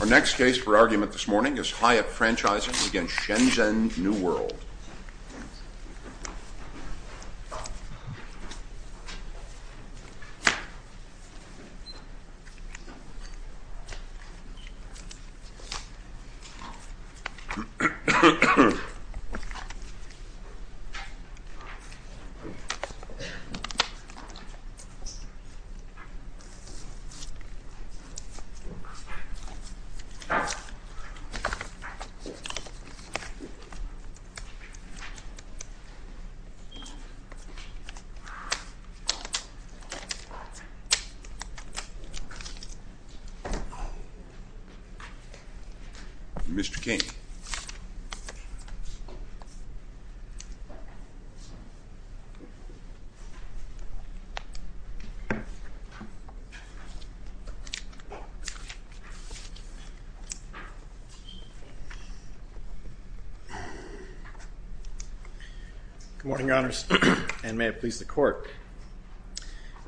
Our next case for argument this morning is Hatt Franchising v. Shen Zhen New World. Mr. King. Good morning, Your Honors, and may it please the Court.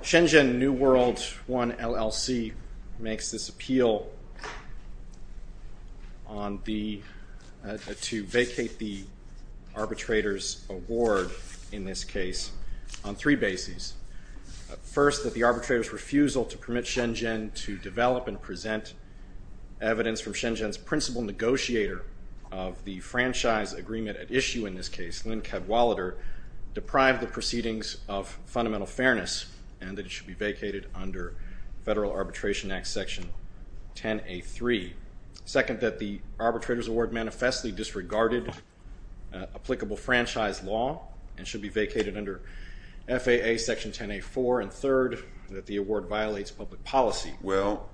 Shen Zhen New World I, LLC makes this appeal to vacate the arbitrator's award in this case on three bases. First, that the arbitrator's refusal to permit Shen Zhen to develop and present evidence from Shen Zhen's principal negotiator of the franchise agreement at issue in this case, Lynn Cadwallader, deprived the proceedings of fundamental fairness and that it should be vacated under Federal Arbitration Act Section 10A3. Second, that the arbitrator's award manifestly disregarded applicable franchise law and should be vacated under FAA Section 10A4. And third, that the award violates public policy. Well,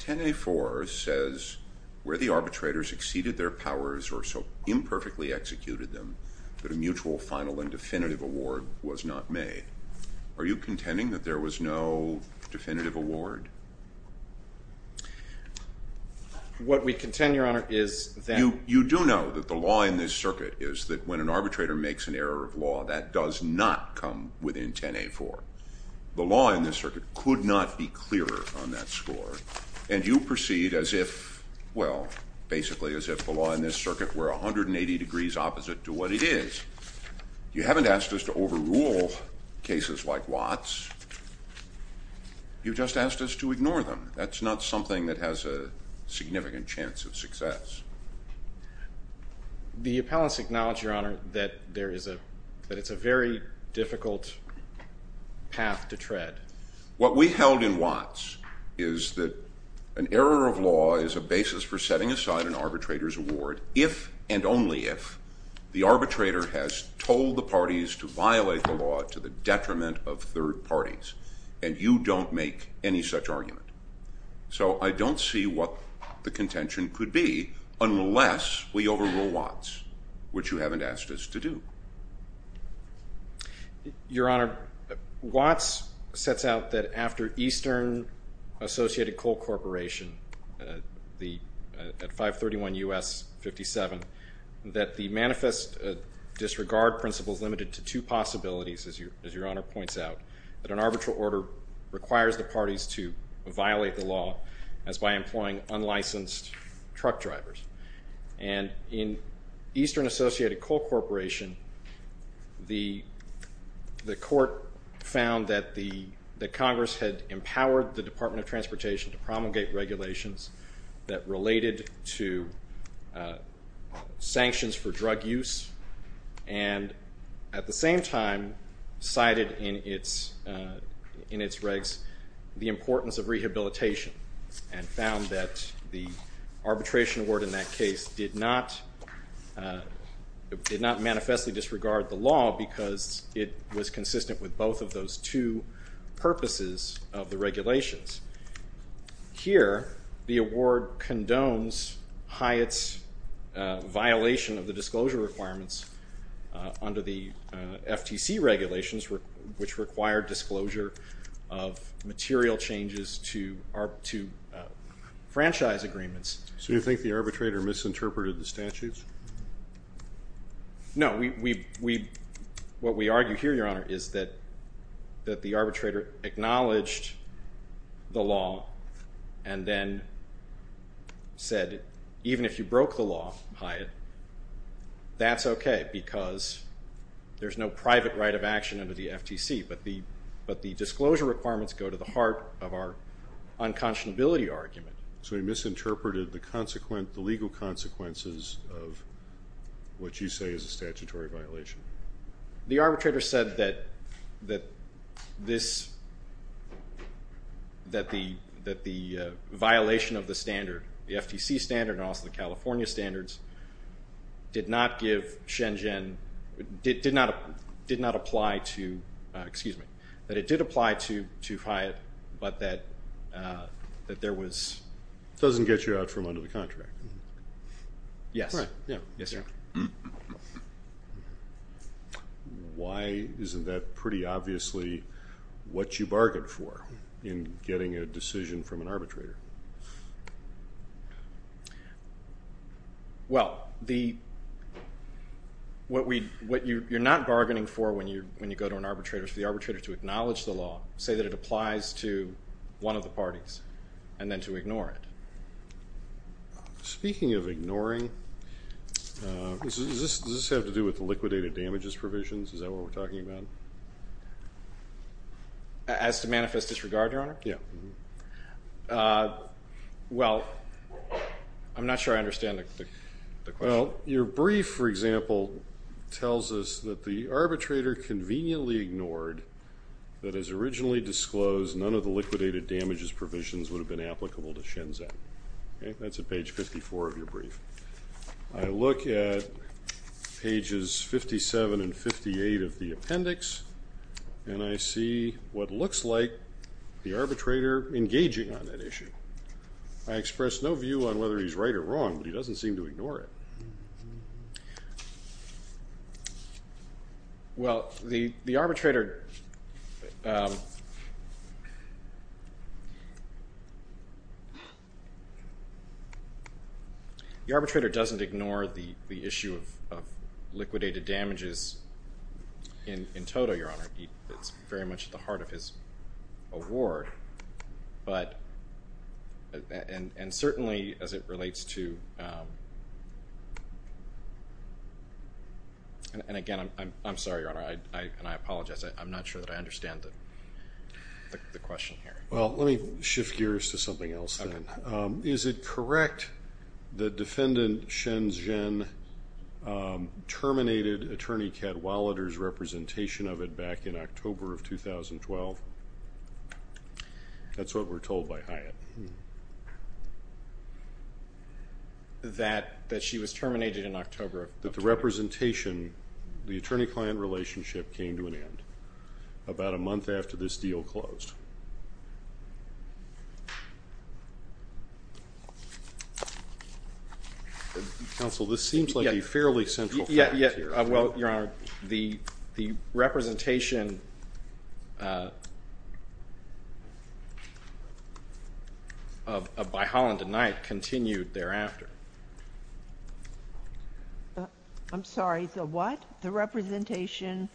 10A4 says where the arbitrators exceeded their powers or so imperfectly executed them that a mutual final and definitive award was not made. Are you contending that there was no definitive award? What we contend, Your Honor, is that... that does not come within 10A4. The law in this circuit could not be clearer on that score. And you proceed as if, well, basically as if the law in this circuit were 180 degrees opposite to what it is. You haven't asked us to overrule cases like Watts. You just asked us to ignore them. The appellants acknowledge, Your Honor, that it's a very difficult path to tread. What we held in Watts is that an error of law is a basis for setting aside an arbitrator's award if and only if the arbitrator has told the parties to violate the law to the detriment of third parties and you don't make any such argument. So I don't see what the contention could be unless we overrule Watts, which you haven't asked us to do. Your Honor, Watts sets out that after Eastern Associated Coal Corporation at 531 U.S. 57, that the manifest disregard principle is limited to two possibilities, as Your Honor points out, that an arbitral order requires the parties to violate the law as by employing unlicensed truck drivers. And in Eastern Associated Coal Corporation, the court found that Congress had empowered the Department of Transportation to promulgate regulations that related to sanctions for drug use and at the same time cited in its regs the importance of rehabilitation and found that the arbitration award in that case did not manifestly disregard the law because it was consistent with both of those two purposes of the regulations. Here, the award condones Hyatt's violation of the disclosure requirements under the FTC regulations which require disclosure of material changes to franchise agreements. So you think the arbitrator misinterpreted the statutes? No, what we argue here, Your Honor, is that the arbitrator acknowledged the law and then said even if you broke the law, Hyatt, that's okay because there's no private right of action under the FTC but the disclosure requirements go to the heart of our unconscionability argument. So he misinterpreted the legal consequences of what you say is a statutory violation? The arbitrator said that the violation of the standard, the FTC standard and also the California standards, did not apply to Hyatt but that there was... It doesn't get you out from under the contract. Yes. Why isn't that pretty obviously what you bargained for in getting a decision from an arbitrator? Well, what you're not bargaining for when you go to an arbitrator is for the arbitrator to acknowledge the law, say that it applies to one of the parties and then to ignore it. Speaking of ignoring, does this have to do with the liquidated damages provisions? Is that what we're talking about? As to manifest disregard, Your Honor? Yeah. Well, I'm not sure I understand the question. Well, your brief, for example, tells us that the arbitrator conveniently ignored that as originally disclosed none of the liquidated damages provisions would have been applicable to Shenzhen. I look at pages 57 and 58 of the appendix and I see what looks like the arbitrator engaging on that issue. I express no view on whether he's right or wrong, but he doesn't seem to ignore it. Well, the arbitrator... The arbitrator doesn't ignore the issue of liquidated damages in total, Your Honor. It's very much at the heart of his award, and certainly as it relates to... And again, I'm sorry, Your Honor, and I apologize. I'm not sure that I understand the question here. Well, let me shift gears to something else then. Is it correct that Defendant Shenzhen terminated Attorney Cadwallader's representation of it back in October of 2012? That's what we're told by Hyatt. That she was terminated in October of 2012? That the representation, the attorney-client relationship, came to an end about a month after this deal closed. Counsel, this seems like a fairly central point here. Well, Your Honor, the representation by Holland and Knight continued thereafter. I'm sorry, the what? The representation...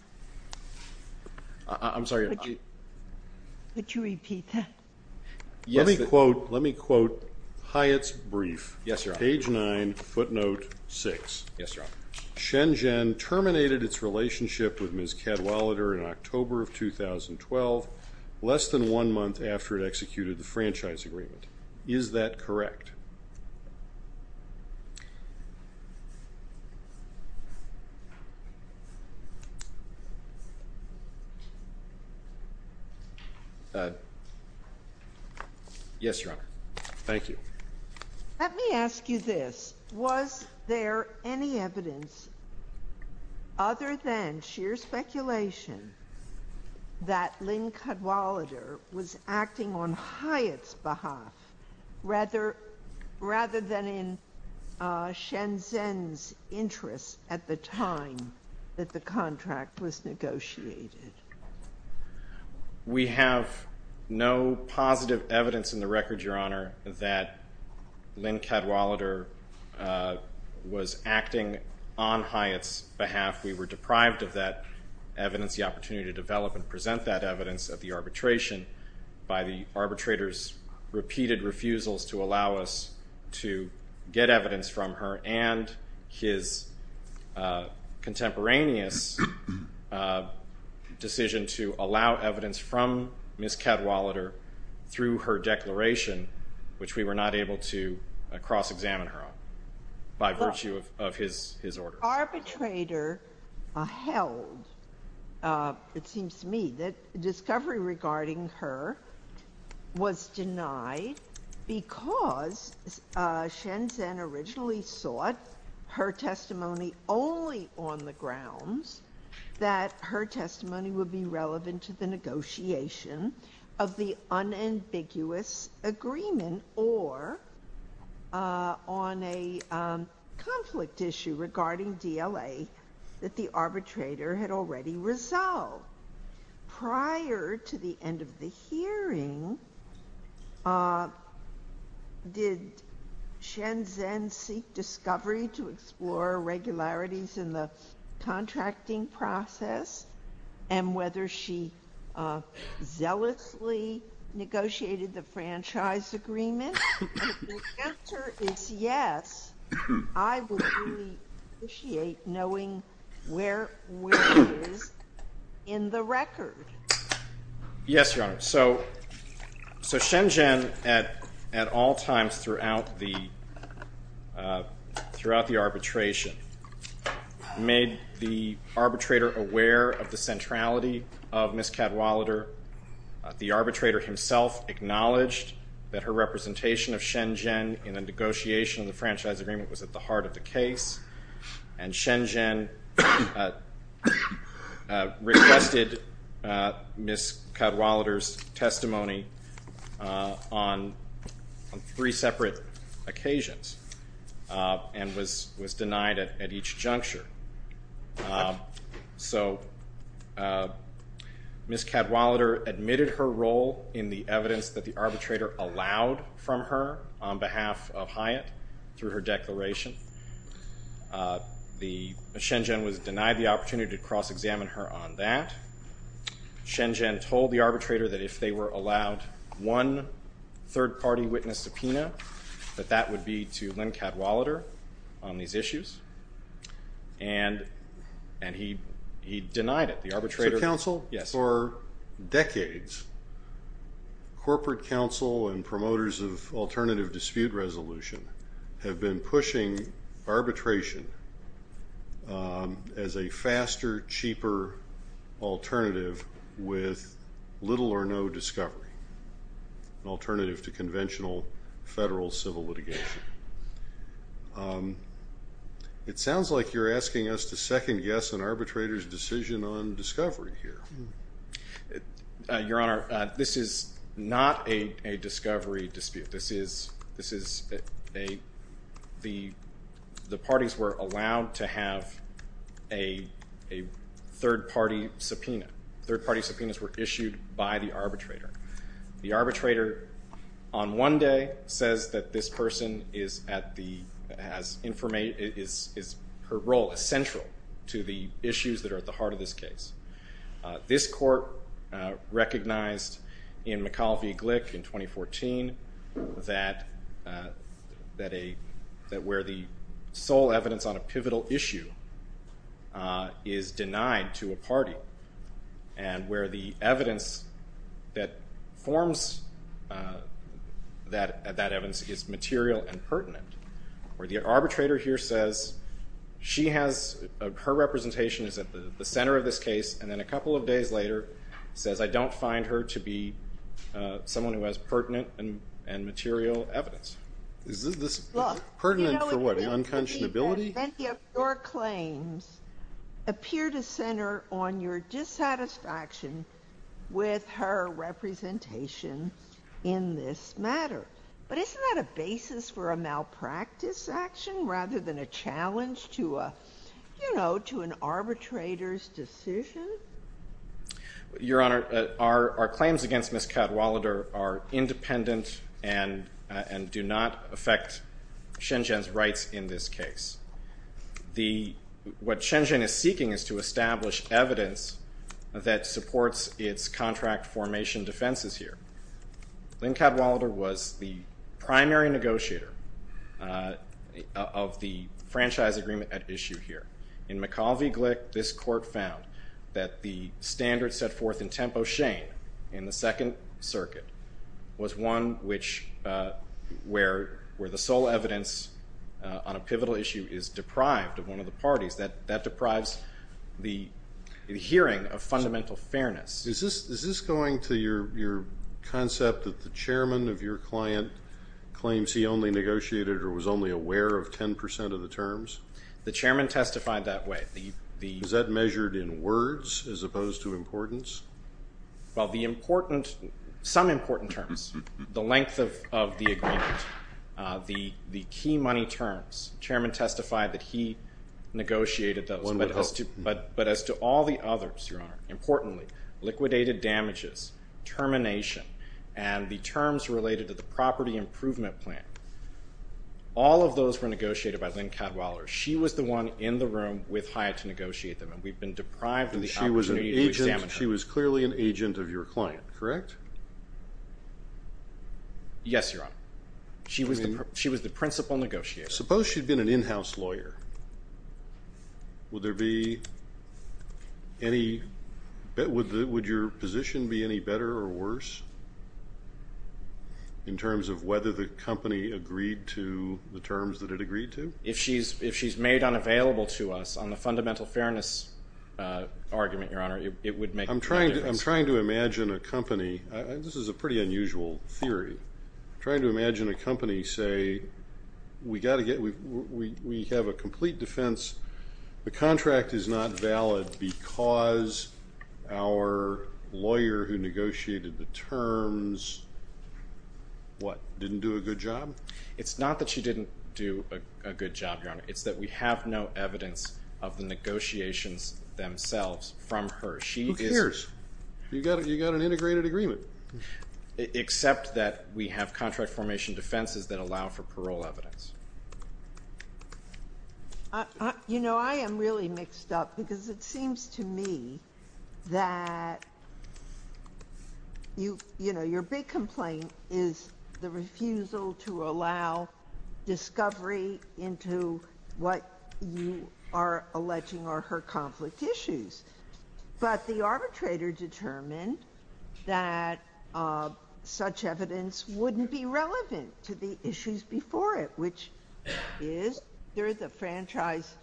I'm sorry. Could you repeat that? Let me quote Hyatt's brief. Yes, Your Honor. Page 9, footnote 6. Yes, Your Honor. Shenzhen terminated its relationship with Ms. Cadwallader in October of 2012, less than one month after it executed the franchise agreement. Is that correct? Yes, Your Honor. Thank you. Let me ask you this. Was there any evidence, other than sheer speculation, that Lynn Cadwallader was acting on Hyatt's behalf? Rather than in Shenzhen's interest at the time that the contract was negotiated? We have no positive evidence in the record, Your Honor, that Lynn Cadwallader was acting on Hyatt's behalf. We were deprived of that evidence, the opportunity to develop and present that evidence of the arbitration by the arbitrator's repeated refusals to allow us to get evidence from her and his contemporaneous decision to allow evidence from Ms. Cadwallader through her declaration, which we were not able to cross-examine her on by virtue of his order. Her arbitrator held, it seems to me, that discovery regarding her was denied because Shenzhen originally sought her testimony only on the grounds that her testimony would be relevant to the negotiation of the unambiguous agreement and or on a conflict issue regarding DLA that the arbitrator had already resolved. Prior to the end of the hearing, did Shenzhen seek discovery to explore irregularities in the contracting process and whether she zealously negotiated the franchise agreement? If the answer is yes, I would really appreciate knowing where she is in the record. Yes, Your Honor. So Shenzhen, at all times throughout the arbitration, made the arbitrator aware of the centrality of Ms. Cadwallader. The arbitrator himself acknowledged that her representation of Shenzhen in the negotiation of the franchise agreement was at the heart of the case, and Shenzhen requested Ms. Cadwallader's testimony on three separate occasions and was denied at each juncture. So Ms. Cadwallader admitted her role in the evidence that the arbitrator allowed from her on behalf of Hyatt through her declaration. Shenzhen was denied the opportunity to cross-examine her on that. Shenzhen told the arbitrator that if they were allowed one third-party witness subpoena, that that would be to Lynn Cadwallader on these issues, and he denied it. Mr. Counsel, for decades, corporate counsel and promoters of alternative dispute resolution have been pushing arbitration as a faster, cheaper alternative with little or no discovery, an alternative to conventional federal civil litigation. It sounds like you're asking us to second-guess an arbitrator's decision on discovery here. Your Honor, this is not a discovery dispute. This is a—the parties were allowed to have a third-party subpoena. Third-party subpoenas were issued by the arbitrator. The arbitrator, on one day, says that this person is at the—has information— is—her role is central to the issues that are at the heart of this case. This court recognized in McAuliffe v. Glick in 2014 that where the sole evidence on a pivotal issue is denied to a party and where the evidence that forms that evidence is material and pertinent, where the arbitrator here says she has—her representation is at the center of this case and then a couple of days later says, I don't find her to be someone who has pertinent and material evidence. Is this pertinent for what, unconscionability? Many of your claims appear to center on your dissatisfaction with her representation in this matter. But isn't that a basis for a malpractice action rather than a challenge to a—you know, to an arbitrator's decision? Your Honor, our claims against Ms. Cadwalader are independent and do not affect Shenzhen's rights in this case. The—what Shenzhen is seeking is to establish evidence that supports its contract formation defenses here. Lynn Cadwalader was the primary negotiator of the franchise agreement at issue here. In McAulvey-Glick, this court found that the standard set forth in Tempo Shane in the Second Circuit was one which—where the sole evidence on a pivotal issue is deprived of one of the parties. That deprives the hearing of fundamental fairness. Is this going to your concept that the chairman of your client claims he only negotiated or was only aware of 10 percent of the terms? The chairman testified that way. Was that measured in words as opposed to importance? Well, the important—some important terms, the length of the agreement, the key money terms, the chairman testified that he negotiated those. But as to all the others, Your Honor, importantly, liquidated damages, termination, and the terms related to the property improvement plan, all of those were negotiated by Lynn Cadwalader. She was the one in the room with Hyatt to negotiate them, and we've been deprived of the opportunity to examine her. And she was an agent—she was clearly an agent of your client, correct? Yes, Your Honor. She was the principal negotiator. Suppose she'd been an in-house lawyer. Would there be any—would your position be any better or worse in terms of whether the company agreed to the terms that it agreed to? If she's made unavailable to us, on the fundamental fairness argument, Your Honor, it would make no difference. I'm trying to imagine a company—this is a pretty unusual theory. I'm trying to imagine a company say, we've got to get—we have a complete defense. The contract is not valid because our lawyer who negotiated the terms, what, didn't do a good job? It's not that she didn't do a good job, Your Honor. It's that we have no evidence of the negotiations themselves from her. Who cares? You've got an integrated agreement. Except that we have contract formation defenses that allow for parole evidence. You know, I am really mixed up because it seems to me that, you know, your big complaint is the refusal to allow discovery into what you are alleging are her conflict issues. But the arbitrator determined that such evidence wouldn't be relevant to the issues before it, which is whether the franchise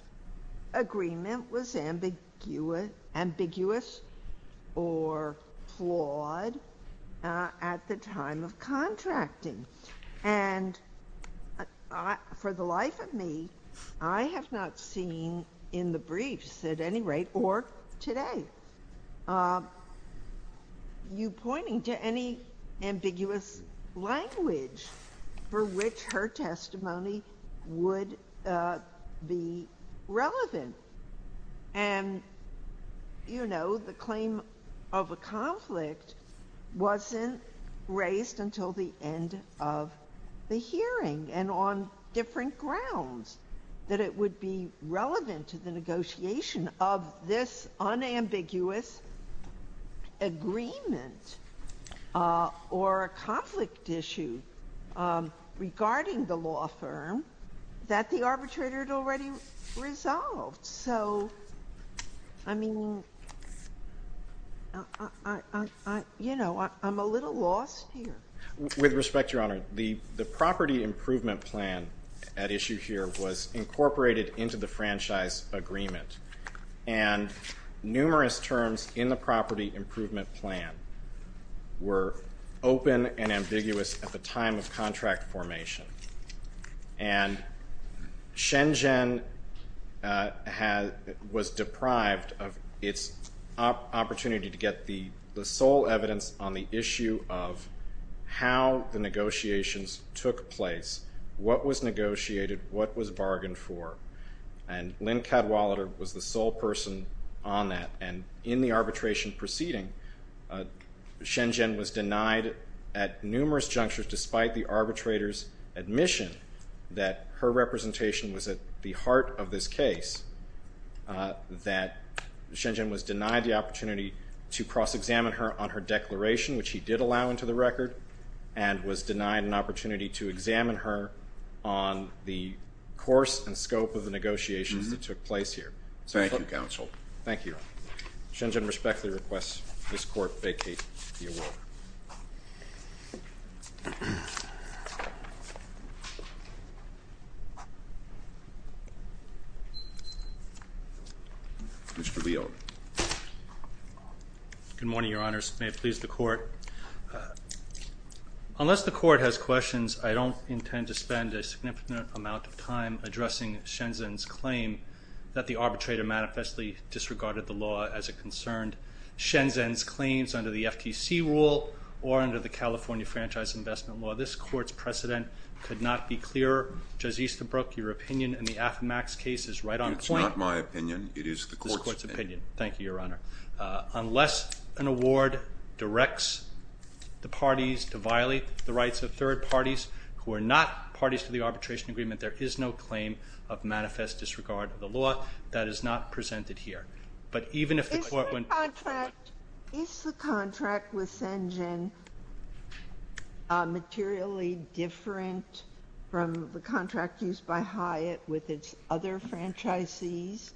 agreement was ambiguous or flawed at the time of contracting. And for the life of me, I have not seen in the briefs, at any rate, or today, you pointing to any ambiguous language for which her testimony would be relevant. And, you know, the claim of a conflict wasn't raised until the end of the hearing, and on different grounds that it would be relevant to the negotiation of this unambiguous agreement or a conflict issue regarding the law firm that the arbitrator had already resolved. So, I mean, you know, I'm a little lost here. With respect, Your Honor, the property improvement plan at issue here was incorporated into the franchise agreement. And numerous terms in the property improvement plan were open and ambiguous at the time of contract formation. And Shenzhen was deprived of its opportunity to get the sole evidence on the issue of how the negotiations took place, what was negotiated, what was bargained for. And Lynn Cadwallader was the sole person on that. And in the arbitration proceeding, Shenzhen was denied at numerous junctures, despite the arbitrator's admission that her representation was at the heart of this case, that Shenzhen was denied the opportunity to cross-examine her on her declaration, which he did allow into the record, and was denied an opportunity to examine her on the course and scope of the negotiations that took place here. Thank you, counsel. Thank you, Your Honor. Shenzhen respectfully requests this court vacate the award. Mr. Leone. Good morning, Your Honors. May it please the court. Unless the court has questions, I don't intend to spend a significant amount of time addressing Shenzhen's claim that the arbitrator manifestly disregarded the law as it concerned Shenzhen's claims under the FTC rule or under the California Franchise Investment Law. This court's precedent could not be clearer. Judge Easterbrook, your opinion in the Affomax case is right on point. It's not my opinion. It is the court's opinion. It is the court's opinion. Thank you, Your Honor. Unless an award directs the parties to violate the rights of third parties who are not parties to the arbitration agreement, there is no claim of manifest disregard of the law. That is not presented here. Is the contract with Shenzhen materially different from the contract used by Hyatt with its other franchisees?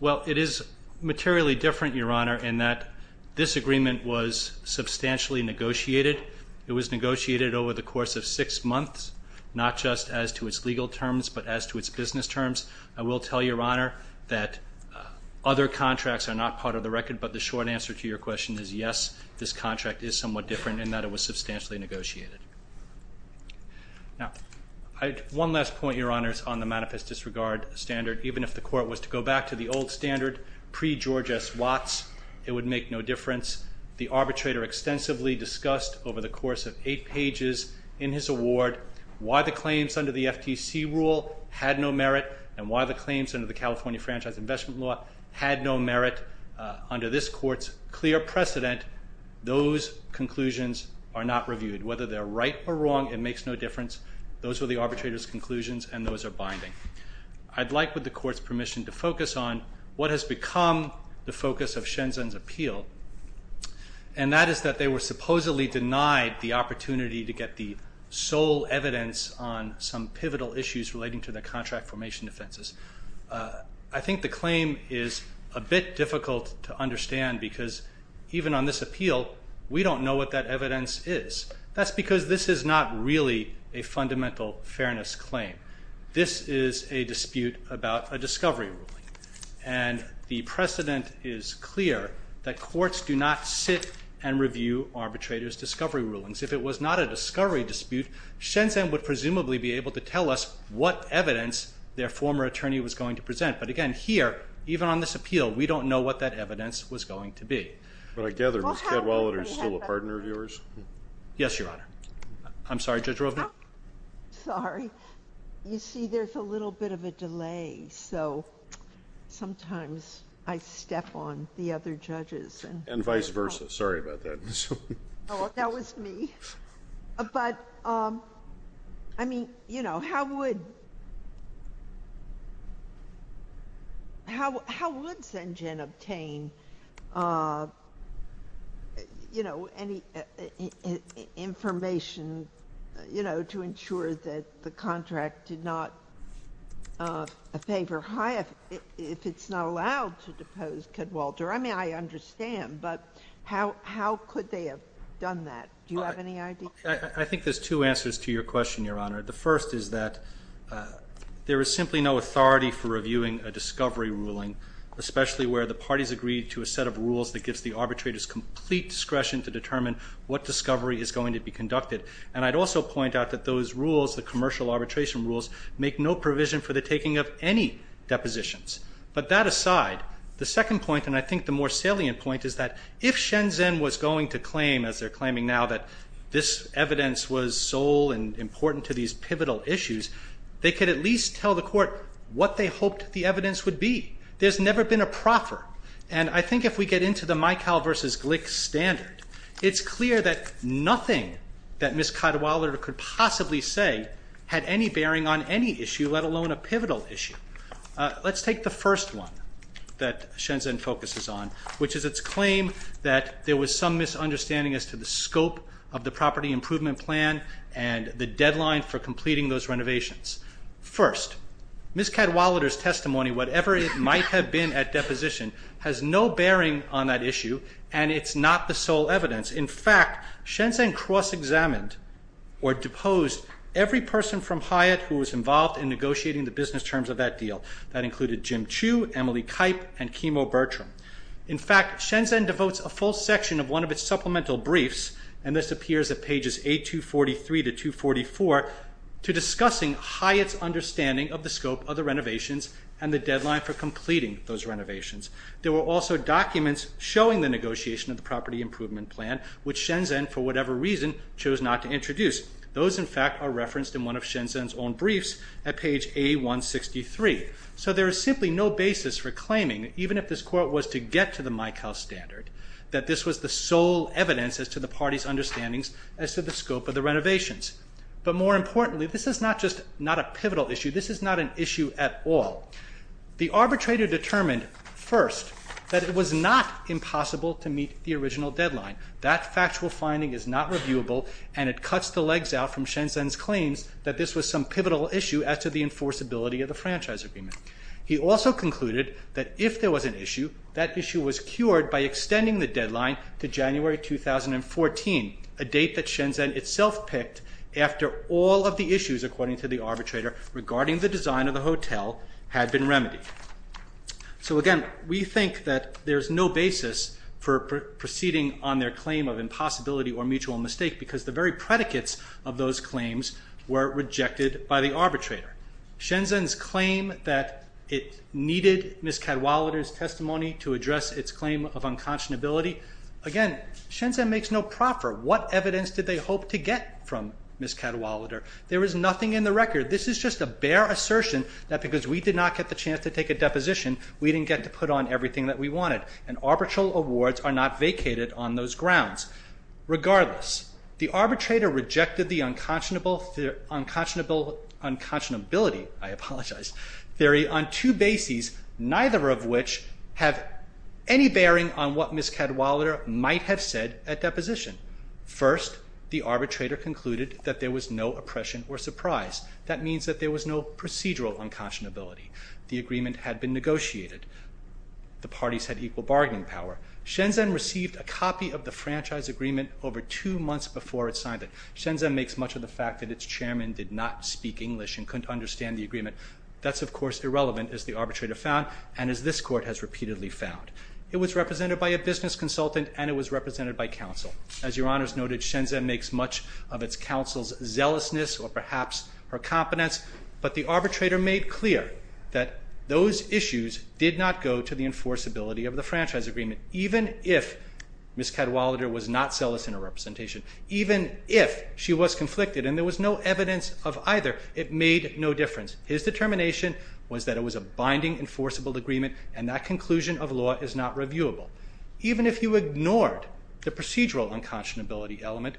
Well, it is materially different, Your Honor, in that this agreement was substantially negotiated. It was negotiated over the course of six months, not just as to its legal terms but as to its business terms. I will tell Your Honor that other contracts are not part of the record, but the short answer to your question is yes, this contract is somewhat different in that it was substantially negotiated. Now, one last point, Your Honors, on the manifest disregard standard. Even if the court was to go back to the old standard pre-George S. Watts, it would make no difference. The arbitrator extensively discussed over the course of eight pages in his award why the claims under the FTC rule had no merit and why the claims under the California Franchise Investment Law had no merit. Under this court's clear precedent, those conclusions are not reviewed. Whether they're right or wrong, it makes no difference. Those were the arbitrator's conclusions, and those are binding. I'd like, with the court's permission, to focus on what has become the focus of Shenzhen's appeal, and that is that they were supposedly denied the opportunity to get the sole evidence on some pivotal issues relating to the contract formation defenses. I think the claim is a bit difficult to understand because even on this appeal, we don't know what that evidence is. That's because this is not really a fundamental fairness claim. This is a dispute about a discovery ruling, and the precedent is clear that courts do not sit and review arbitrators' discovery rulings. If it was not a discovery dispute, Shenzhen would presumably be able to tell us what evidence their former attorney was going to present. But again, here, even on this appeal, we don't know what that evidence was going to be. But I gather Ms. Cadwallader is still a partner of yours. Yes, Your Honor. I'm sorry, Judge Rovner? Sorry. You see, there's a little bit of a delay, so sometimes I step on the other judges. And vice versa. Sorry about that. That was me. But, I mean, you know, how would Shenzhen obtain, you know, any information, you know, to ensure that the contract did not favor HIAF if it's not allowed to depose Cadwallader? I mean, I understand, but how could they have done that? Do you have any idea? I think there's two answers to your question, Your Honor. The first is that there is simply no authority for reviewing a discovery ruling, especially where the parties agree to a set of rules that gives the arbitrators complete discretion to determine what discovery is going to be conducted. And I'd also point out that those rules, the commercial arbitration rules, make no provision for the taking of any depositions. But that aside, the second point, and I think the more salient point, is that if Shenzhen was going to claim, as they're claiming now, that this evidence was sole and important to these pivotal issues, they could at least tell the court what they hoped the evidence would be. There's never been a proffer. And I think if we get into the Mykal versus Glick standard, it's clear that nothing that Ms. Cadwallader could possibly say had any bearing on any issue, let alone a pivotal issue. Let's take the first one that Shenzhen focuses on, which is its claim that there was some misunderstanding as to the scope of the property improvement plan and the deadline for completing those renovations. First, Ms. Cadwallader's testimony, whatever it might have been at deposition, has no bearing on that issue, and it's not the sole evidence. In fact, Shenzhen cross-examined or deposed every person from Hyatt who was involved in negotiating the business terms of that deal. That included Jim Chu, Emily Kipe, and Kimo Bertram. In fact, Shenzhen devotes a full section of one of its supplemental briefs, and this appears at pages A243 to 244, to discussing Hyatt's understanding of the scope of the renovations and the deadline for completing those renovations. There were also documents showing the negotiation of the property improvement plan, which Shenzhen, for whatever reason, chose not to introduce. Those, in fact, are referenced in one of Shenzhen's own briefs at page A163. So there is simply no basis for claiming, even if this quote was to get to the Mykal standard, that this was the sole evidence as to the party's understandings as to the scope of the renovations. But more importantly, this is not just not a pivotal issue, this is not an issue at all. The arbitrator determined, first, that it was not impossible to meet the original deadline. That factual finding is not reviewable, and it cuts the legs out from Shenzhen's claims that this was some pivotal issue He also concluded that if there was an issue, that issue was cured by extending the deadline to January 2014, a date that Shenzhen itself picked after all of the issues, according to the arbitrator, regarding the design of the hotel had been remedied. So again, we think that there's no basis for proceeding on their claim of impossibility or mutual mistake because the very predicates of those claims were rejected by the arbitrator. Shenzhen's claim that it needed Ms. Cadwallader's testimony to address its claim of unconscionability, again, Shenzhen makes no proffer. What evidence did they hope to get from Ms. Cadwallader? There is nothing in the record. This is just a bare assertion that because we did not get the chance to take a deposition, we didn't get to put on everything that we wanted. And arbitral awards are not vacated on those grounds. Regardless, the arbitrator rejected the unconscionability, I apologize, theory on two bases, neither of which have any bearing on what Ms. Cadwallader might have said at deposition. First, the arbitrator concluded that there was no oppression or surprise. That means that there was no procedural unconscionability. The agreement had been negotiated. The parties had equal bargaining power. Shenzhen received a copy of the franchise agreement over two months before it signed it. Shenzhen makes much of the fact that its chairman did not speak English and couldn't understand the agreement. That's, of course, irrelevant, as the arbitrator found, and as this Court has repeatedly found. It was represented by a business consultant and it was represented by counsel. As Your Honors noted, Shenzhen makes much of its counsel's zealousness or perhaps her competence, but the arbitrator made clear that those issues did not go to the enforceability of the franchise agreement. Even if Ms. Cadwallader was not zealous in her representation, even if she was conflicted, and there was no evidence of either, it made no difference. His determination was that it was a binding enforceable agreement and that conclusion of law is not reviewable. Even if you ignored the procedural unconscionability element,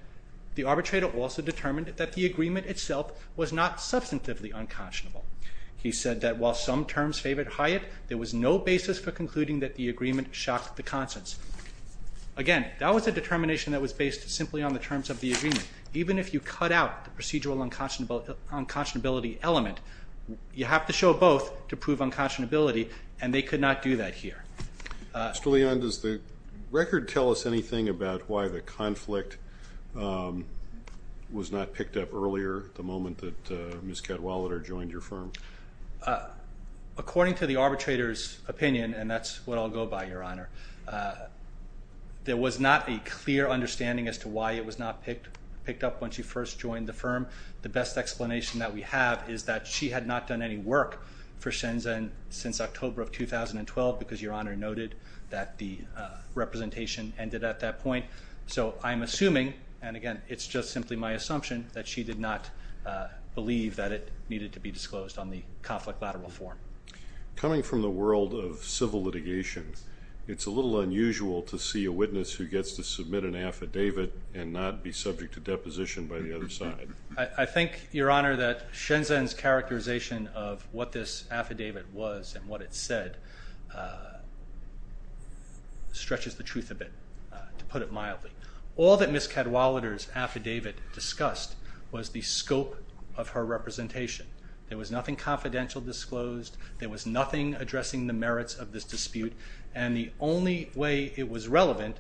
the arbitrator also determined that the agreement itself was not substantively unconscionable. He said that while some terms favored Hyatt, there was no basis for concluding that the agreement shocked the consents. Again, that was a determination that was based simply on the terms of the agreement. Even if you cut out the procedural unconscionability element, you have to show both to prove unconscionability, and they could not do that here. Mr. Leon, does the record tell us anything about why the conflict was not picked up earlier, the moment that Ms. Cadwallader joined your firm? According to the arbitrator's opinion, and that's what I'll go by, Your Honor, there was not a clear understanding as to why it was not picked up when she first joined the firm. The best explanation that we have is that she had not done any work for Shenzhen since October of 2012, because Your Honor noted that the representation ended at that point. So I'm assuming, and again, it's just simply my assumption, that she did not believe that it needed to be disclosed on the conflict lateral form. Coming from the world of civil litigation, it's a little unusual to see a witness who gets to submit an affidavit and not be subject to deposition by the other side. I think, Your Honor, that Shenzhen's characterization of what this affidavit was and what it said stretches the truth a bit, to put it mildly. All that Ms. Cadwallader's affidavit discussed was the scope of her representation. There was nothing confidential disclosed, there was nothing addressing the merits of this dispute, and the only way it was relevant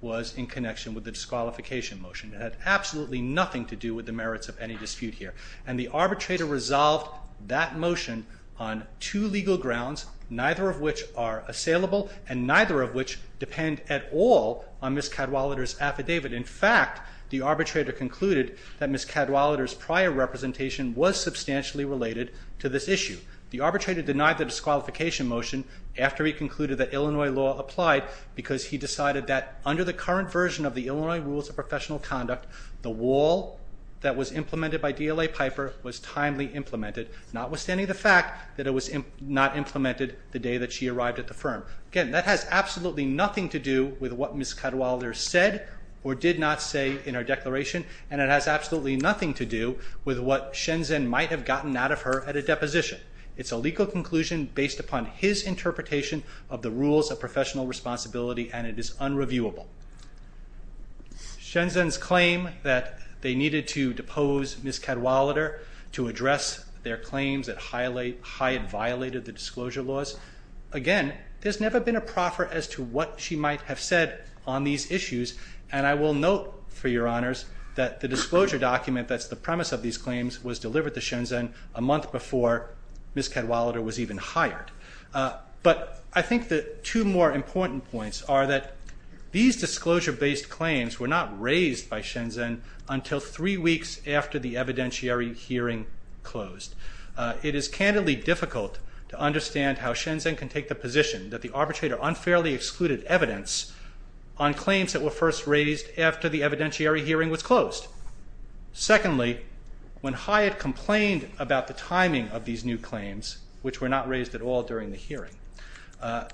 was in connection with the disqualification motion. It had absolutely nothing to do with the merits of any dispute here. And the arbitrator resolved that motion on two legal grounds, neither of which are assailable and neither of which depend at all on Ms. Cadwallader's affidavit. In fact, the arbitrator concluded that Ms. Cadwallader's prior representation was substantially related to this issue. The arbitrator denied the disqualification motion after he concluded that Illinois law applied because he decided that under the current version of the Illinois Rules of Professional Conduct, the wall that was implemented by DLA Piper was timely implemented, notwithstanding the fact that it was not implemented the day that she arrived at the firm. Again, that has absolutely nothing to do with what Ms. Cadwallader said or did not say in her declaration, and it has absolutely nothing to do with what Shenzhen might have gotten out of her at a deposition. It's a legal conclusion based upon his interpretation of the Rules of Professional Responsibility, and it is unreviewable. Shenzhen's claim that they needed to depose Ms. Cadwallader to address their claims that Hyatt violated the disclosure laws, again, there's never been a proffer as to what she might have said on these issues, and I will note, for your honours, that the disclosure document that's the premise of these claims was delivered to Shenzhen a month before Ms. Cadwallader was even hired. But I think the two more important points are that these disclosure-based claims were not raised by Shenzhen until three weeks after the evidentiary hearing closed. It is candidly difficult to understand how Shenzhen can take the position that the arbitrator unfairly excluded evidence on claims that were first raised after the evidentiary hearing was closed. Secondly, when Hyatt complained about the timing of these new claims, which were not raised at all during the hearing,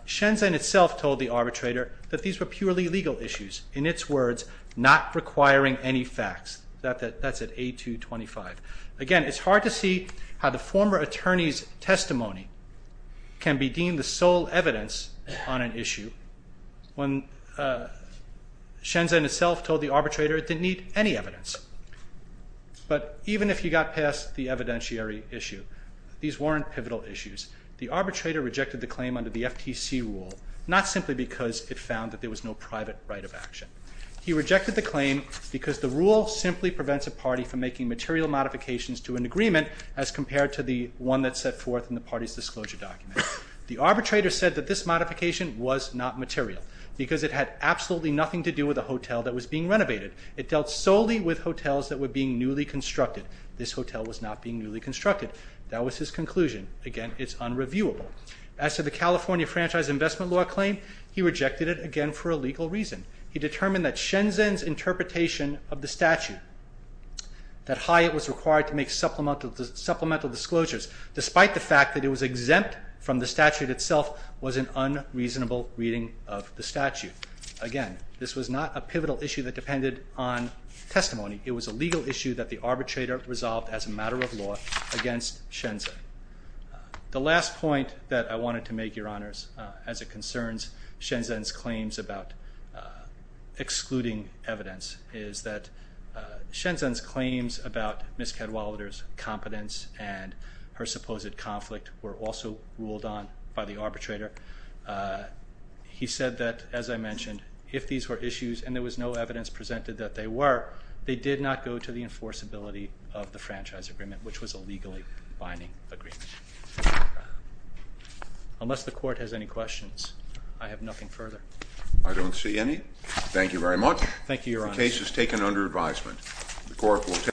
Shenzhen itself told the arbitrator that these were purely legal issues, in its words, not requiring any facts. That's at A225. Again, it's hard to see how the former attorney's testimony can be deemed the sole evidence on an issue when Shenzhen itself told the arbitrator it didn't need any evidence. But even if you got past the evidentiary issue, these weren't pivotal issues. The arbitrator rejected the claim under the FTC rule, not simply because it found that there was no private right of action. He rejected the claim because the rule simply prevents a party from making material modifications to an agreement as compared to the one that's set forth in the party's disclosure document. The arbitrator said that this modification was not material because it had absolutely nothing to do with a hotel that was being renovated. It dealt solely with hotels that were being newly constructed. This hotel was not being newly constructed. That was his conclusion. Again, it's unreviewable. As to the California Franchise Investment Law claim, he rejected it, again, for a legal reason. He determined that Shenzhen's interpretation of the statute, that Hyatt was required to make supplemental disclosures, despite the fact that it was exempt from the statute itself, was an unreasonable reading of the statute. Again, this was not a pivotal issue that depended on testimony. It was a legal issue that the arbitrator resolved as a matter of law against Shenzhen. The last point that I wanted to make, Your Honors, as it concerns Shenzhen's claims about excluding evidence, is that Shenzhen's claims about Ms. Cadwalader's competence and her supposed conflict were also ruled on by the arbitrator. He said that, as I mentioned, if these were issues and there was no evidence presented that they were, they did not go to the enforceability of the franchise agreement, which was a legally binding agreement. Unless the Court has any questions, I have nothing further. I don't see any. Thank you very much. Thank you, Your Honors. The case is taken under advisement.